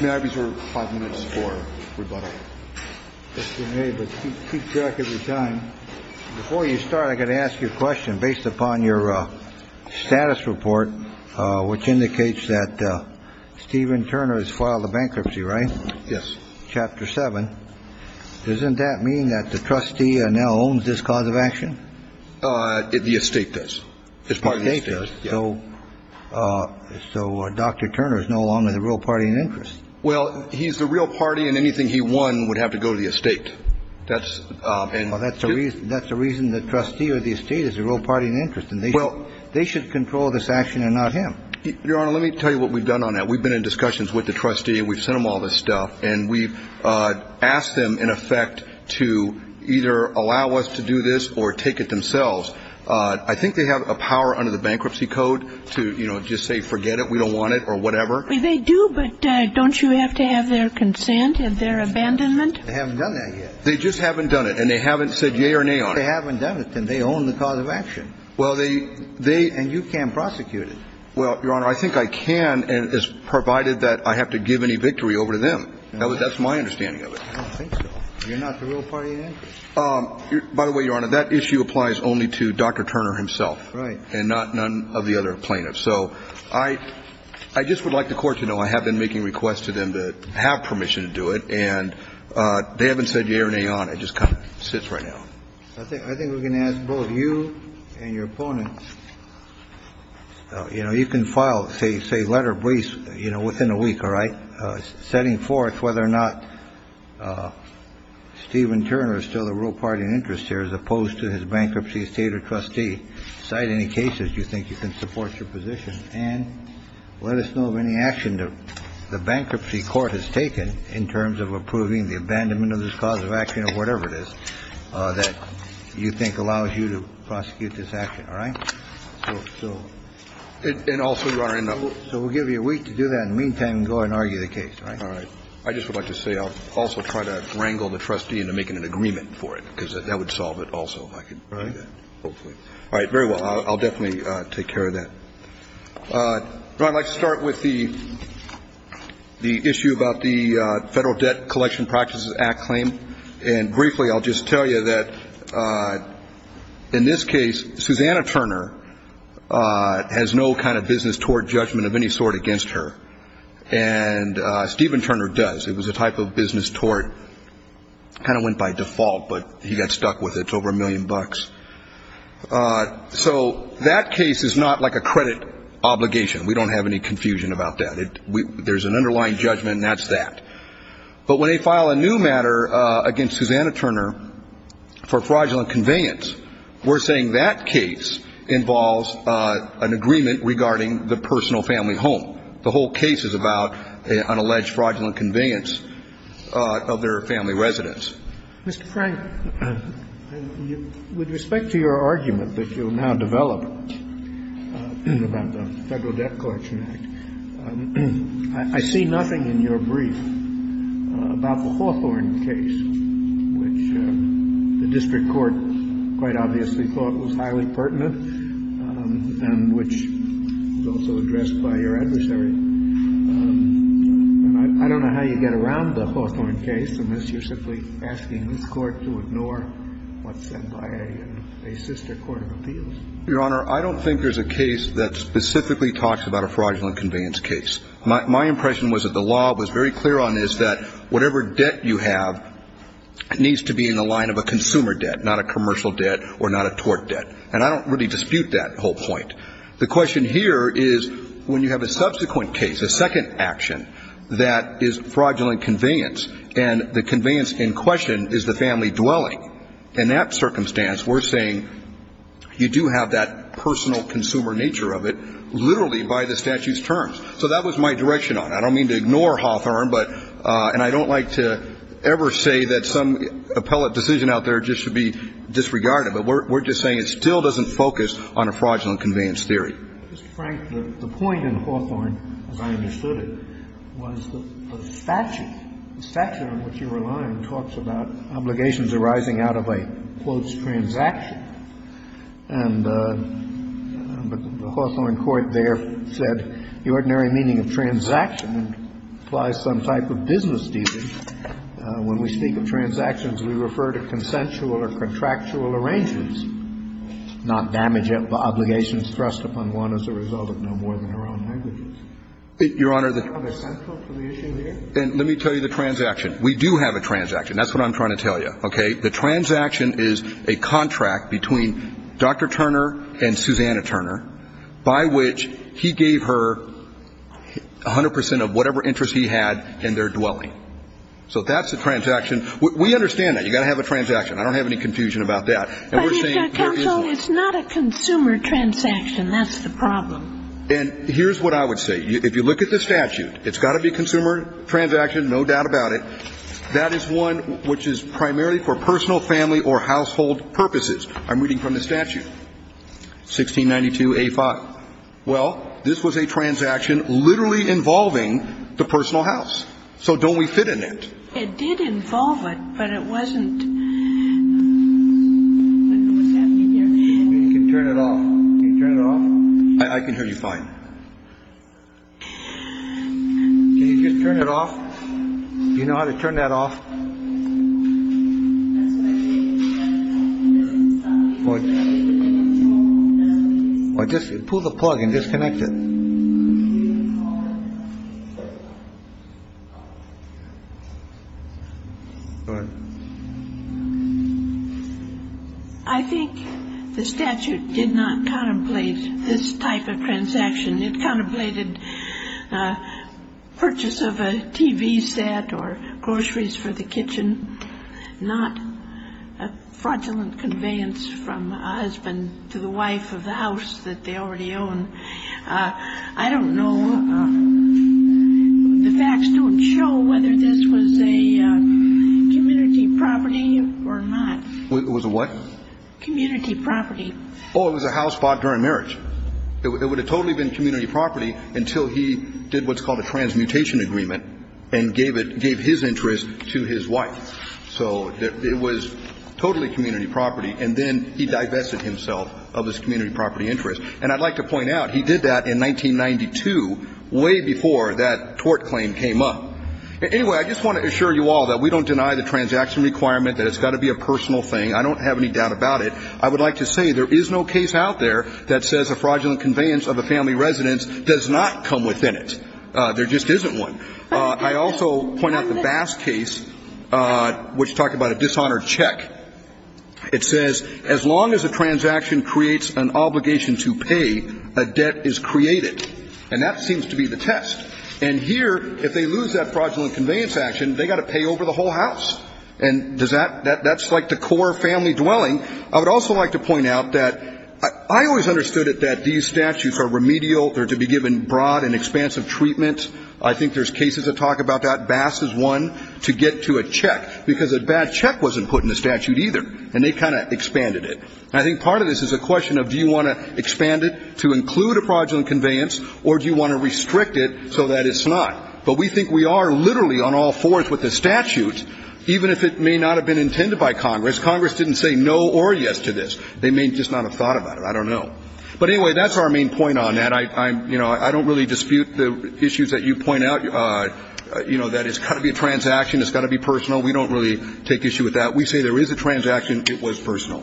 May I reserve five minutes for rebuttal? But keep track of the time before you start. I got to ask you a question based upon your status report, which indicates that Stephen Turner has filed a bankruptcy, right? Yes. Chapter seven. Doesn't that mean that the trustee now owns this cause of action? The estate does. It's part of the estate. So Dr. Turner is no longer the real party in interest. Well, he's the real party and anything he won would have to go to the estate. That's and that's the reason. That's the reason the trustee or the estate is the real party in interest. Well, they should control this action and not him. Your Honor, let me tell you what we've done on that. We've been in discussions with the trustee. We've sent him all this stuff and we've asked them, in effect, to either allow us to do this or take it themselves. I think they have a power under the bankruptcy code to, you know, just say, forget it. We don't want it or whatever. They do. But don't you have to have their consent and their abandonment? They haven't done that yet. They just haven't done it and they haven't said yea or nay on it. They haven't done it and they own the cause of action. Well, they they And you can't prosecute it. Well, Your Honor, I think I can and it's provided that I have to give any victory over to them. That's my understanding of it. I don't think so. You're not the real party in interest. By the way, Your Honor, that issue applies only to Dr. Turner himself. Right. And not none of the other plaintiffs. So I just would like the Court to know I have been making requests to them to have permission to do it and they haven't said yea or nay on it. It just kind of sits right now. I think we can ask both you and your opponents. You know, you can file, say, say letter briefs, you know, within a week. All right. Setting forth whether or not Stephen Turner is still the real party in interest here as opposed to his bankruptcy state or trustee. Cite any cases you think you can support your position. And let us know of any action to the bankruptcy court has taken in terms of approving the abandonment of this cause of action or whatever it is. That you think allows you to prosecute this action. All right. And also, Your Honor, so we'll give you a week to do that. In the meantime, go and argue the case. All right. I just would like to say I'll also try to wrangle the trustee into making an agreement for it because that would solve it also. Right. All right. I'll definitely take care of that. I'd like to start with the issue about the Federal Debt Collection Practices Act claim. And briefly, I'll just tell you that in this case, Susanna Turner has no kind of business toward judgment of any sort against her. And Stephen Turner does. It was a type of business toward kind of went by default, but he got stuck with it. It's over a million bucks. So that case is not like a credit obligation. We don't have any confusion about that. There's an underlying judgment, and that's that. But when they file a new matter against Susanna Turner for fraudulent conveyance, we're saying that case involves an agreement regarding the personal family home. The whole case is about an alleged fraudulent conveyance of their family residence. Mr. Frank, with respect to your argument that you'll now develop about the Federal Debt Collection Act, I see nothing in your brief about the Hawthorne case, which the district court quite obviously thought was highly pertinent and which was also addressed by your adversary. I don't know how you get around the Hawthorne case unless you're simply asking this Court to ignore what's said by a sister court of appeals. Your Honor, I don't think there's a case that specifically talks about a fraudulent conveyance case. My impression was that the law was very clear on this, that whatever debt you have needs to be in the line of a consumer debt, not a commercial debt or not a tort debt. And I don't really dispute that whole point. The question here is when you have a subsequent case, a second action, that is fraudulent conveyance and the conveyance in question is the family dwelling. In that circumstance, we're saying you do have that personal consumer nature of it literally by the statute's terms. So that was my direction on it. I don't mean to ignore Hawthorne, and I don't like to ever say that some appellate decision out there just should be disregarded, but we're just saying it still doesn't focus on a fraudulent conveyance theory. Mr. Frank, the point in Hawthorne, as I understood it, was the statute. The statute on which you rely talks about obligations arising out of a, quote, transaction. And the Hawthorne court there said the ordinary meaning of transaction implies some type of business dealings. When we speak of transactions, we refer to consensual or contractual arrangements, not damage obligations thrust upon one as a result of no more than her own negligence. Your Honor, the ---- Are they central to the issue here? And let me tell you the transaction. We do have a transaction. That's what I'm trying to tell you. Okay? The transaction is a contract between Dr. Turner and Susanna Turner by which he gave her 100 percent of whatever interest he had in their dwelling. So that's a transaction. We understand that. You've got to have a transaction. I don't have any confusion about that. And we're saying there is one. But, Mr. Counsel, it's not a consumer transaction. That's the problem. And here's what I would say. If you look at the statute, it's got to be consumer transaction, no doubt about it. That is one which is primarily for personal, family, or household purposes. I'm reading from the statute, 1692a5. Well, this was a transaction literally involving the personal house. So don't we fit in it? It did involve it, but it wasn't. I don't know what's happening here. You can turn it off. Can you turn it off? I can hear you fine. Can you just turn it off? Do you know how to turn that off? Or just pull the plug and disconnect it. I think the statute did not contemplate this type of transaction. It contemplated purchase of a TV set or groceries for the kitchen, not a fraudulent conveyance from a husband to the wife of the house that they already own. I don't know. The facts don't show whether this was a community property or not. It was a what? Community property. Oh, it was a house bought during marriage. It would have totally been community property until he did what's called a transmutation agreement and gave his interest to his wife. So it was totally community property, and then he divested himself of his community property interest. And I'd like to point out, he did that in 1992, way before that tort claim came up. Anyway, I just want to assure you all that we don't deny the transaction requirement, that it's got to be a personal thing. I don't have any doubt about it. I would like to say there is no case out there that says a fraudulent conveyance of a family residence does not come within it. There just isn't one. I also point out the Bass case, which talked about a dishonored check. It says as long as a transaction creates an obligation to pay, a debt is created. And that seems to be the test. And here, if they lose that fraudulent conveyance action, they've got to pay over the whole house. And that's like the core family dwelling. I would also like to point out that I always understood it that these statutes are remedial. They're to be given broad and expansive treatment. I think there's cases that talk about that. Bass is one to get to a check, because a bad check wasn't put in the statute either, and they kind of expanded it. And I think part of this is a question of do you want to expand it to include a fraudulent conveyance, or do you want to restrict it so that it's not? But we think we are literally on all fours with the statutes, even if it may not have been intended by Congress. Congress didn't say no or yes to this. They may just not have thought about it. I don't know. But anyway, that's our main point on that. You know, I don't really dispute the issues that you point out, you know, that it's got to be a transaction. It's got to be personal. We don't really take issue with that. We say there is a transaction. It was personal.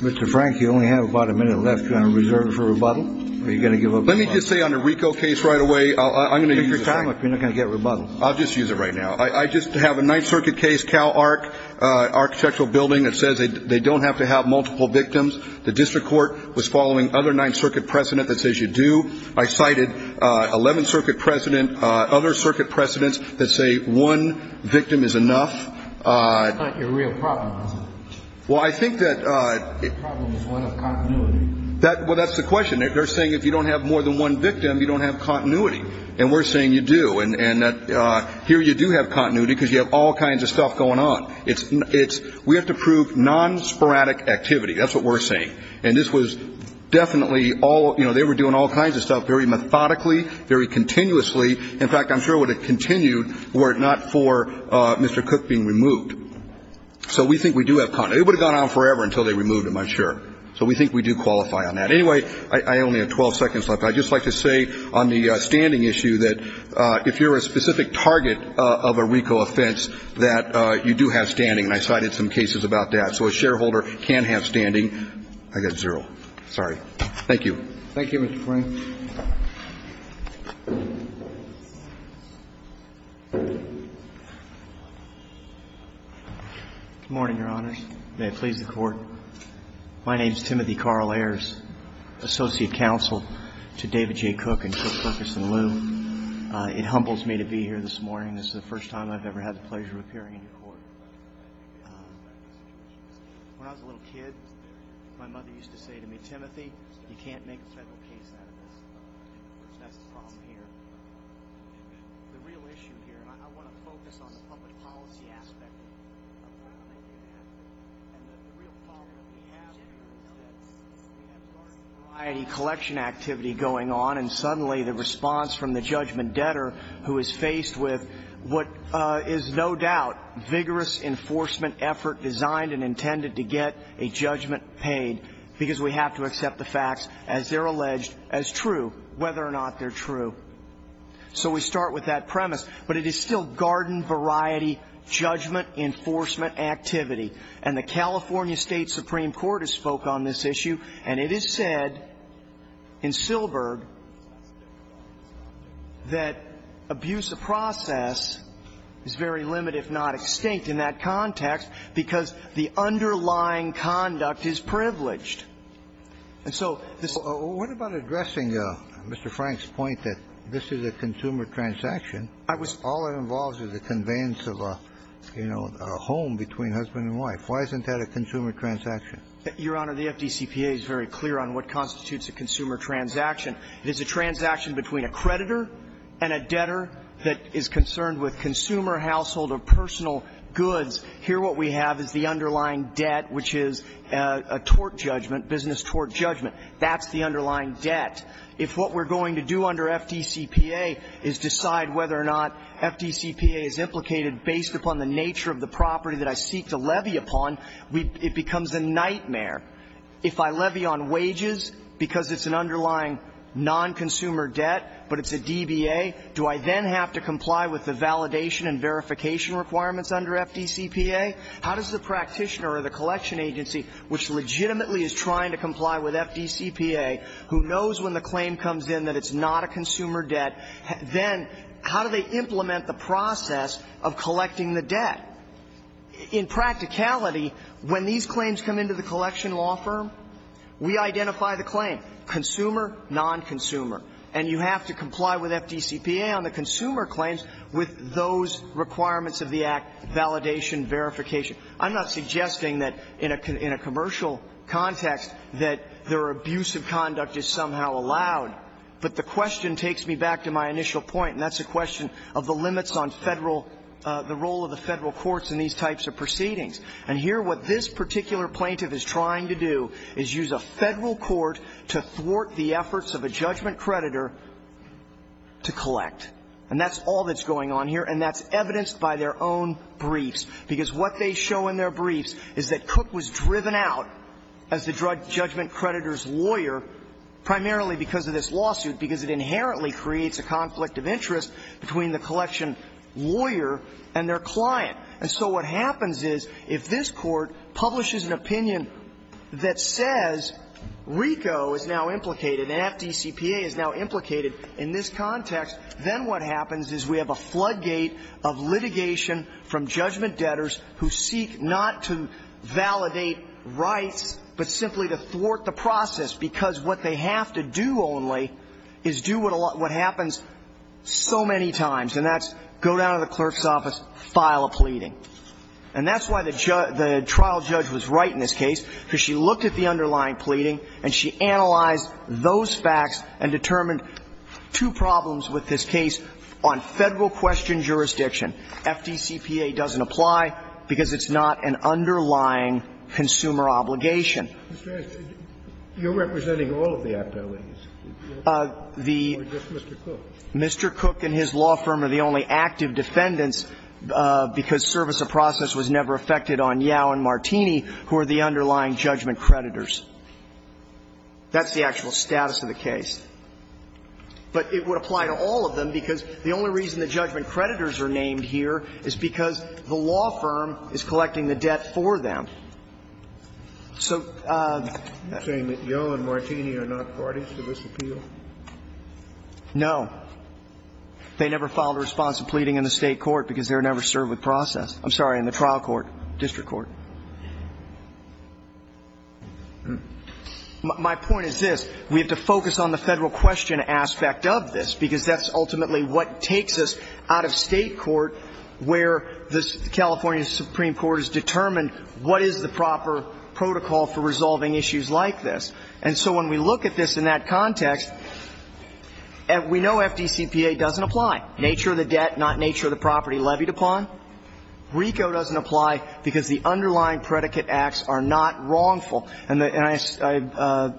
Mr. Frank, you only have about a minute left. You're on reserve for rebuttal, or are you going to give up? Let me just say on the RICO case right away, I'm going to use it. Take your time. You're not going to get rebuttal. I'll just use it right now. I just have a Ninth Circuit case, Cal Arc Architectural Building. It says they don't have to have multiple victims. The district court was following other Ninth Circuit precedent that says you do. I cited 11th Circuit precedent, other circuit precedents that say one victim is enough. That's not your real problem, is it? Well, I think that the problem is one of continuity. Well, that's the question. They're saying if you don't have more than one victim, you don't have continuity. And we're saying you do. And here you do have continuity because you have all kinds of stuff going on. We have to prove non-sporadic activity. That's what we're saying. And this was definitely all they were doing all kinds of stuff very methodically, very continuously. In fact, I'm sure it would have continued were it not for Mr. Cook being removed. So we think we do have continuity. It would have gone on forever until they removed him, I'm sure. So we think we do qualify on that. Anyway, I only have 12 seconds left. I just like to say on the standing issue that if you're a specific target of a RICO offense, that you do have standing. And I cited some cases about that. So a shareholder can have standing. I got zero. Sorry. Thank you. Thank you, Mr. Plain. Good morning, Your Honors. May it please the Court. My name is Timothy Carl Ayers, Associate Counsel to David J. Cook and Cook, Cook, and Liu. It humbles me to be here this morning. This is the first time I've ever had the pleasure of appearing in court. When I was a little kid, my mother used to say to me, Timothy, you can't make a federal case out of this. That's the problem here. The real issue here, I want to focus on the public policy aspect. The real problem we have here is we have garden variety collection activity going on, and suddenly the response from the judgment debtor who is faced with what is no doubt vigorous enforcement effort designed and intended to get a judgment paid because we have to accept the facts as they're alleged as true, whether or not they're true. So we start with that premise. But it is still garden variety judgment enforcement activity. And the California State Supreme Court has spoke on this issue, and it is said in Silberg that abuse of process is very limited if not extinct in that context because the underlying conduct is privileged. And so this ---- What about addressing Mr. Frank's point that this is a consumer transaction? I was ---- All it involves is the conveyance of a, you know, a home between husband and wife. Why isn't that a consumer transaction? Your Honor, the FDCPA is very clear on what constitutes a consumer transaction. It is a transaction between a creditor and a debtor that is concerned with consumer household or personal goods. Here what we have is the underlying debt, which is a tort judgment, business tort judgment. That's the underlying debt. If what we're going to do under FDCPA is decide whether or not FDCPA is implicated based upon the nature of the property that I seek to levy upon, it becomes a nightmare. If I levy on wages because it's an underlying non-consumer debt, but it's a DBA, do I then have to comply with the validation and verification requirements under FDCPA? How does the practitioner or the collection agency, which legitimately is trying to comply with FDCPA, who knows when the claim comes in that it's not a consumer debt, then how do they implement the process of collecting the debt? In practicality, when these claims come into the collection law firm, we identify the claim, consumer, non-consumer. And you have to comply with FDCPA on the consumer claims with those requirements of the Act, validation, verification. I'm not suggesting that in a commercial context that their abusive conduct is somehow allowed, but the question takes me back to my initial point, and that's a question of the limits on Federal the role of the Federal courts in these types of proceedings. And here what this particular plaintiff is trying to do is use a Federal court to thwart the efforts of a judgment creditor to collect. And that's all that's going on here, and that's evidenced by their own briefs, because what they show in their briefs is that Cook was driven out as the judgment creditor's lawyer, primarily because of this lawsuit, because it inherently creates a conflict of interest between the collection lawyer and their client. And so what happens is, if this Court publishes an opinion that says RICO is now implicated and FDCPA is now implicated in this context, then what happens is we have a floodgate of litigation from judgment debtors who seek not to validate rights, but simply to thwart the process, because what they have to do only is do what happens so many times, and that's go down to the clerk's office, file a pleading. And that's why the trial judge was right in this case, because she looked at the facts and determined two problems with this case on Federal-questioned jurisdiction. FDCPA doesn't apply because it's not an underlying consumer obligation. Mr. Hatch, you're representing all of the activities, or just Mr. Cook? Mr. Cook and his law firm are the only active defendants, because service of process was never affected on Yao and Martini, who are the underlying judgment creditors. That's the actual status of the case. But it would apply to all of them, because the only reason the judgment creditors are named here is because the law firm is collecting the debt for them. So the ---- You're saying that Yao and Martini are not parties to this appeal? No. They never filed a response to pleading in the State court, because they were never served with process. I'm sorry, in the trial court, district court. My point is this. We have to focus on the Federal-questioned aspect of this, because that's ultimately what takes us out of State court, where the California Supreme Court has determined what is the proper protocol for resolving issues like this. And so when we look at this in that context, we know FDCPA doesn't apply. Nature of the debt, not nature of the property levied upon. RICO doesn't apply, because the underlying predicate acts are not wrongful. And I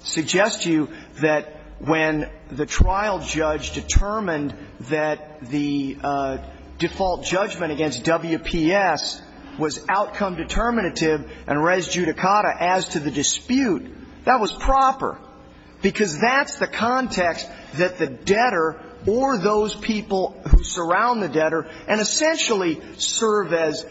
suggest to you that when the trial judge determined that the default judgment against WPS was outcome determinative and res judicata as to the dispute, that was proper, because that's the context that the debtor or those people who surround the debtor and essentially serve as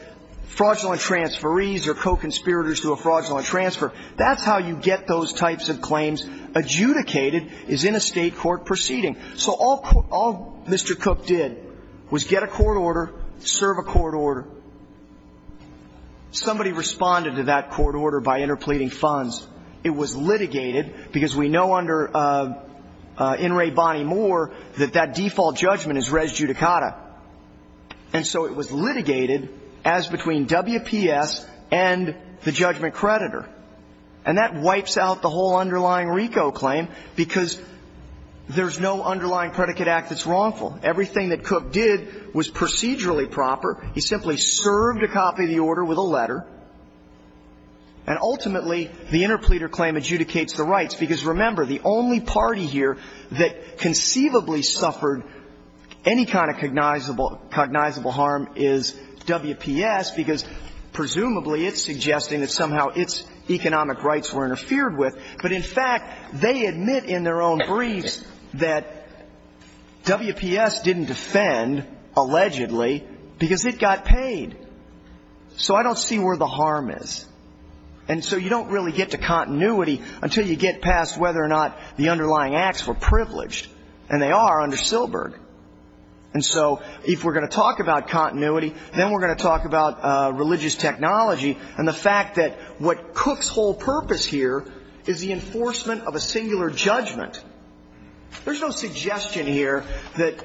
fraudulent transferees or co-conspirators to a fraudulent transfer, that's how you get those types of claims adjudicated, is in a State court proceeding. So all Mr. Cook did was get a court order, serve a court order. Somebody responded to that court order by interpleading funds. It was litigated, because we know under In re Bonnie Moore that that default judgment is res judicata. And so it was litigated as between WPS and the judgment creditor. And that wipes out the whole underlying RICO claim, because there's no underlying predicate act that's wrongful. Everything that Cook did was procedurally proper. He simply served a copy of the order with a letter. And ultimately, the interpleader claim adjudicates the rights, because remember, the only party here that conceivably suffered any kind of cognizable harm is WPS, because presumably it's suggesting that somehow its economic rights were interfered with. But in fact, they admit in their own briefs that WPS didn't defend, allegedly, because it got paid. So I don't see where the harm is. And so you don't really get to continuity until you get past whether or not the underlying acts were privileged. And they are under Silberg. And so if we're going to talk about continuity, then we're going to talk about religious technology and the fact that what Cook's whole purpose here is the enforcement of a singular judgment. There's no suggestion here that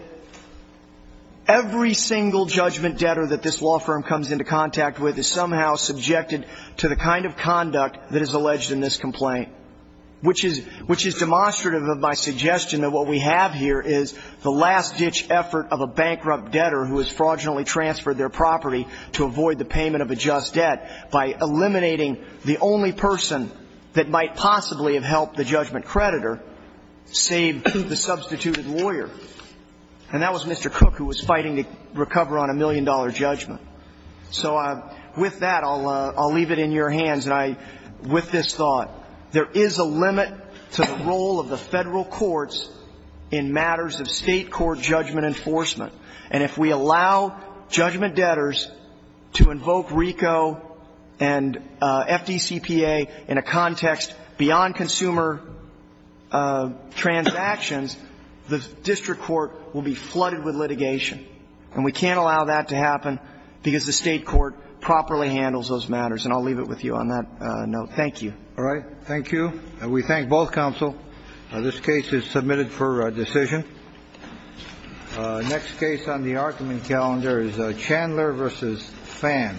every single judgment debtor that this law firm comes into contact with is somehow subjected to the kind of conduct that is alleged in this complaint, which is demonstrative of my suggestion that what we have here is the last-ditch effort of a bankrupt debtor who has fraudulently transferred their property to avoid the payment of a just debt by eliminating the only person that might possibly have helped the judgment creditor save the substituted lawyer. And that was Mr. Cook, who was fighting to recover on a million-dollar judgment. So with that, I'll leave it in your hands. And with this thought, there is a limit to the role of the federal courts in matters of state court judgment enforcement. And if we allow judgment debtors to invoke RICO and FDCPA in a context beyond consumer transactions, the district court will be flooded with litigation. And we can't allow that to happen because the state court properly handles those matters. And I'll leave it with you on that note. Thank you. All right. Thank you. We thank both counsel. This case is submitted for decision. Next case on the argument calendar is Chandler v. Phan. Thank you.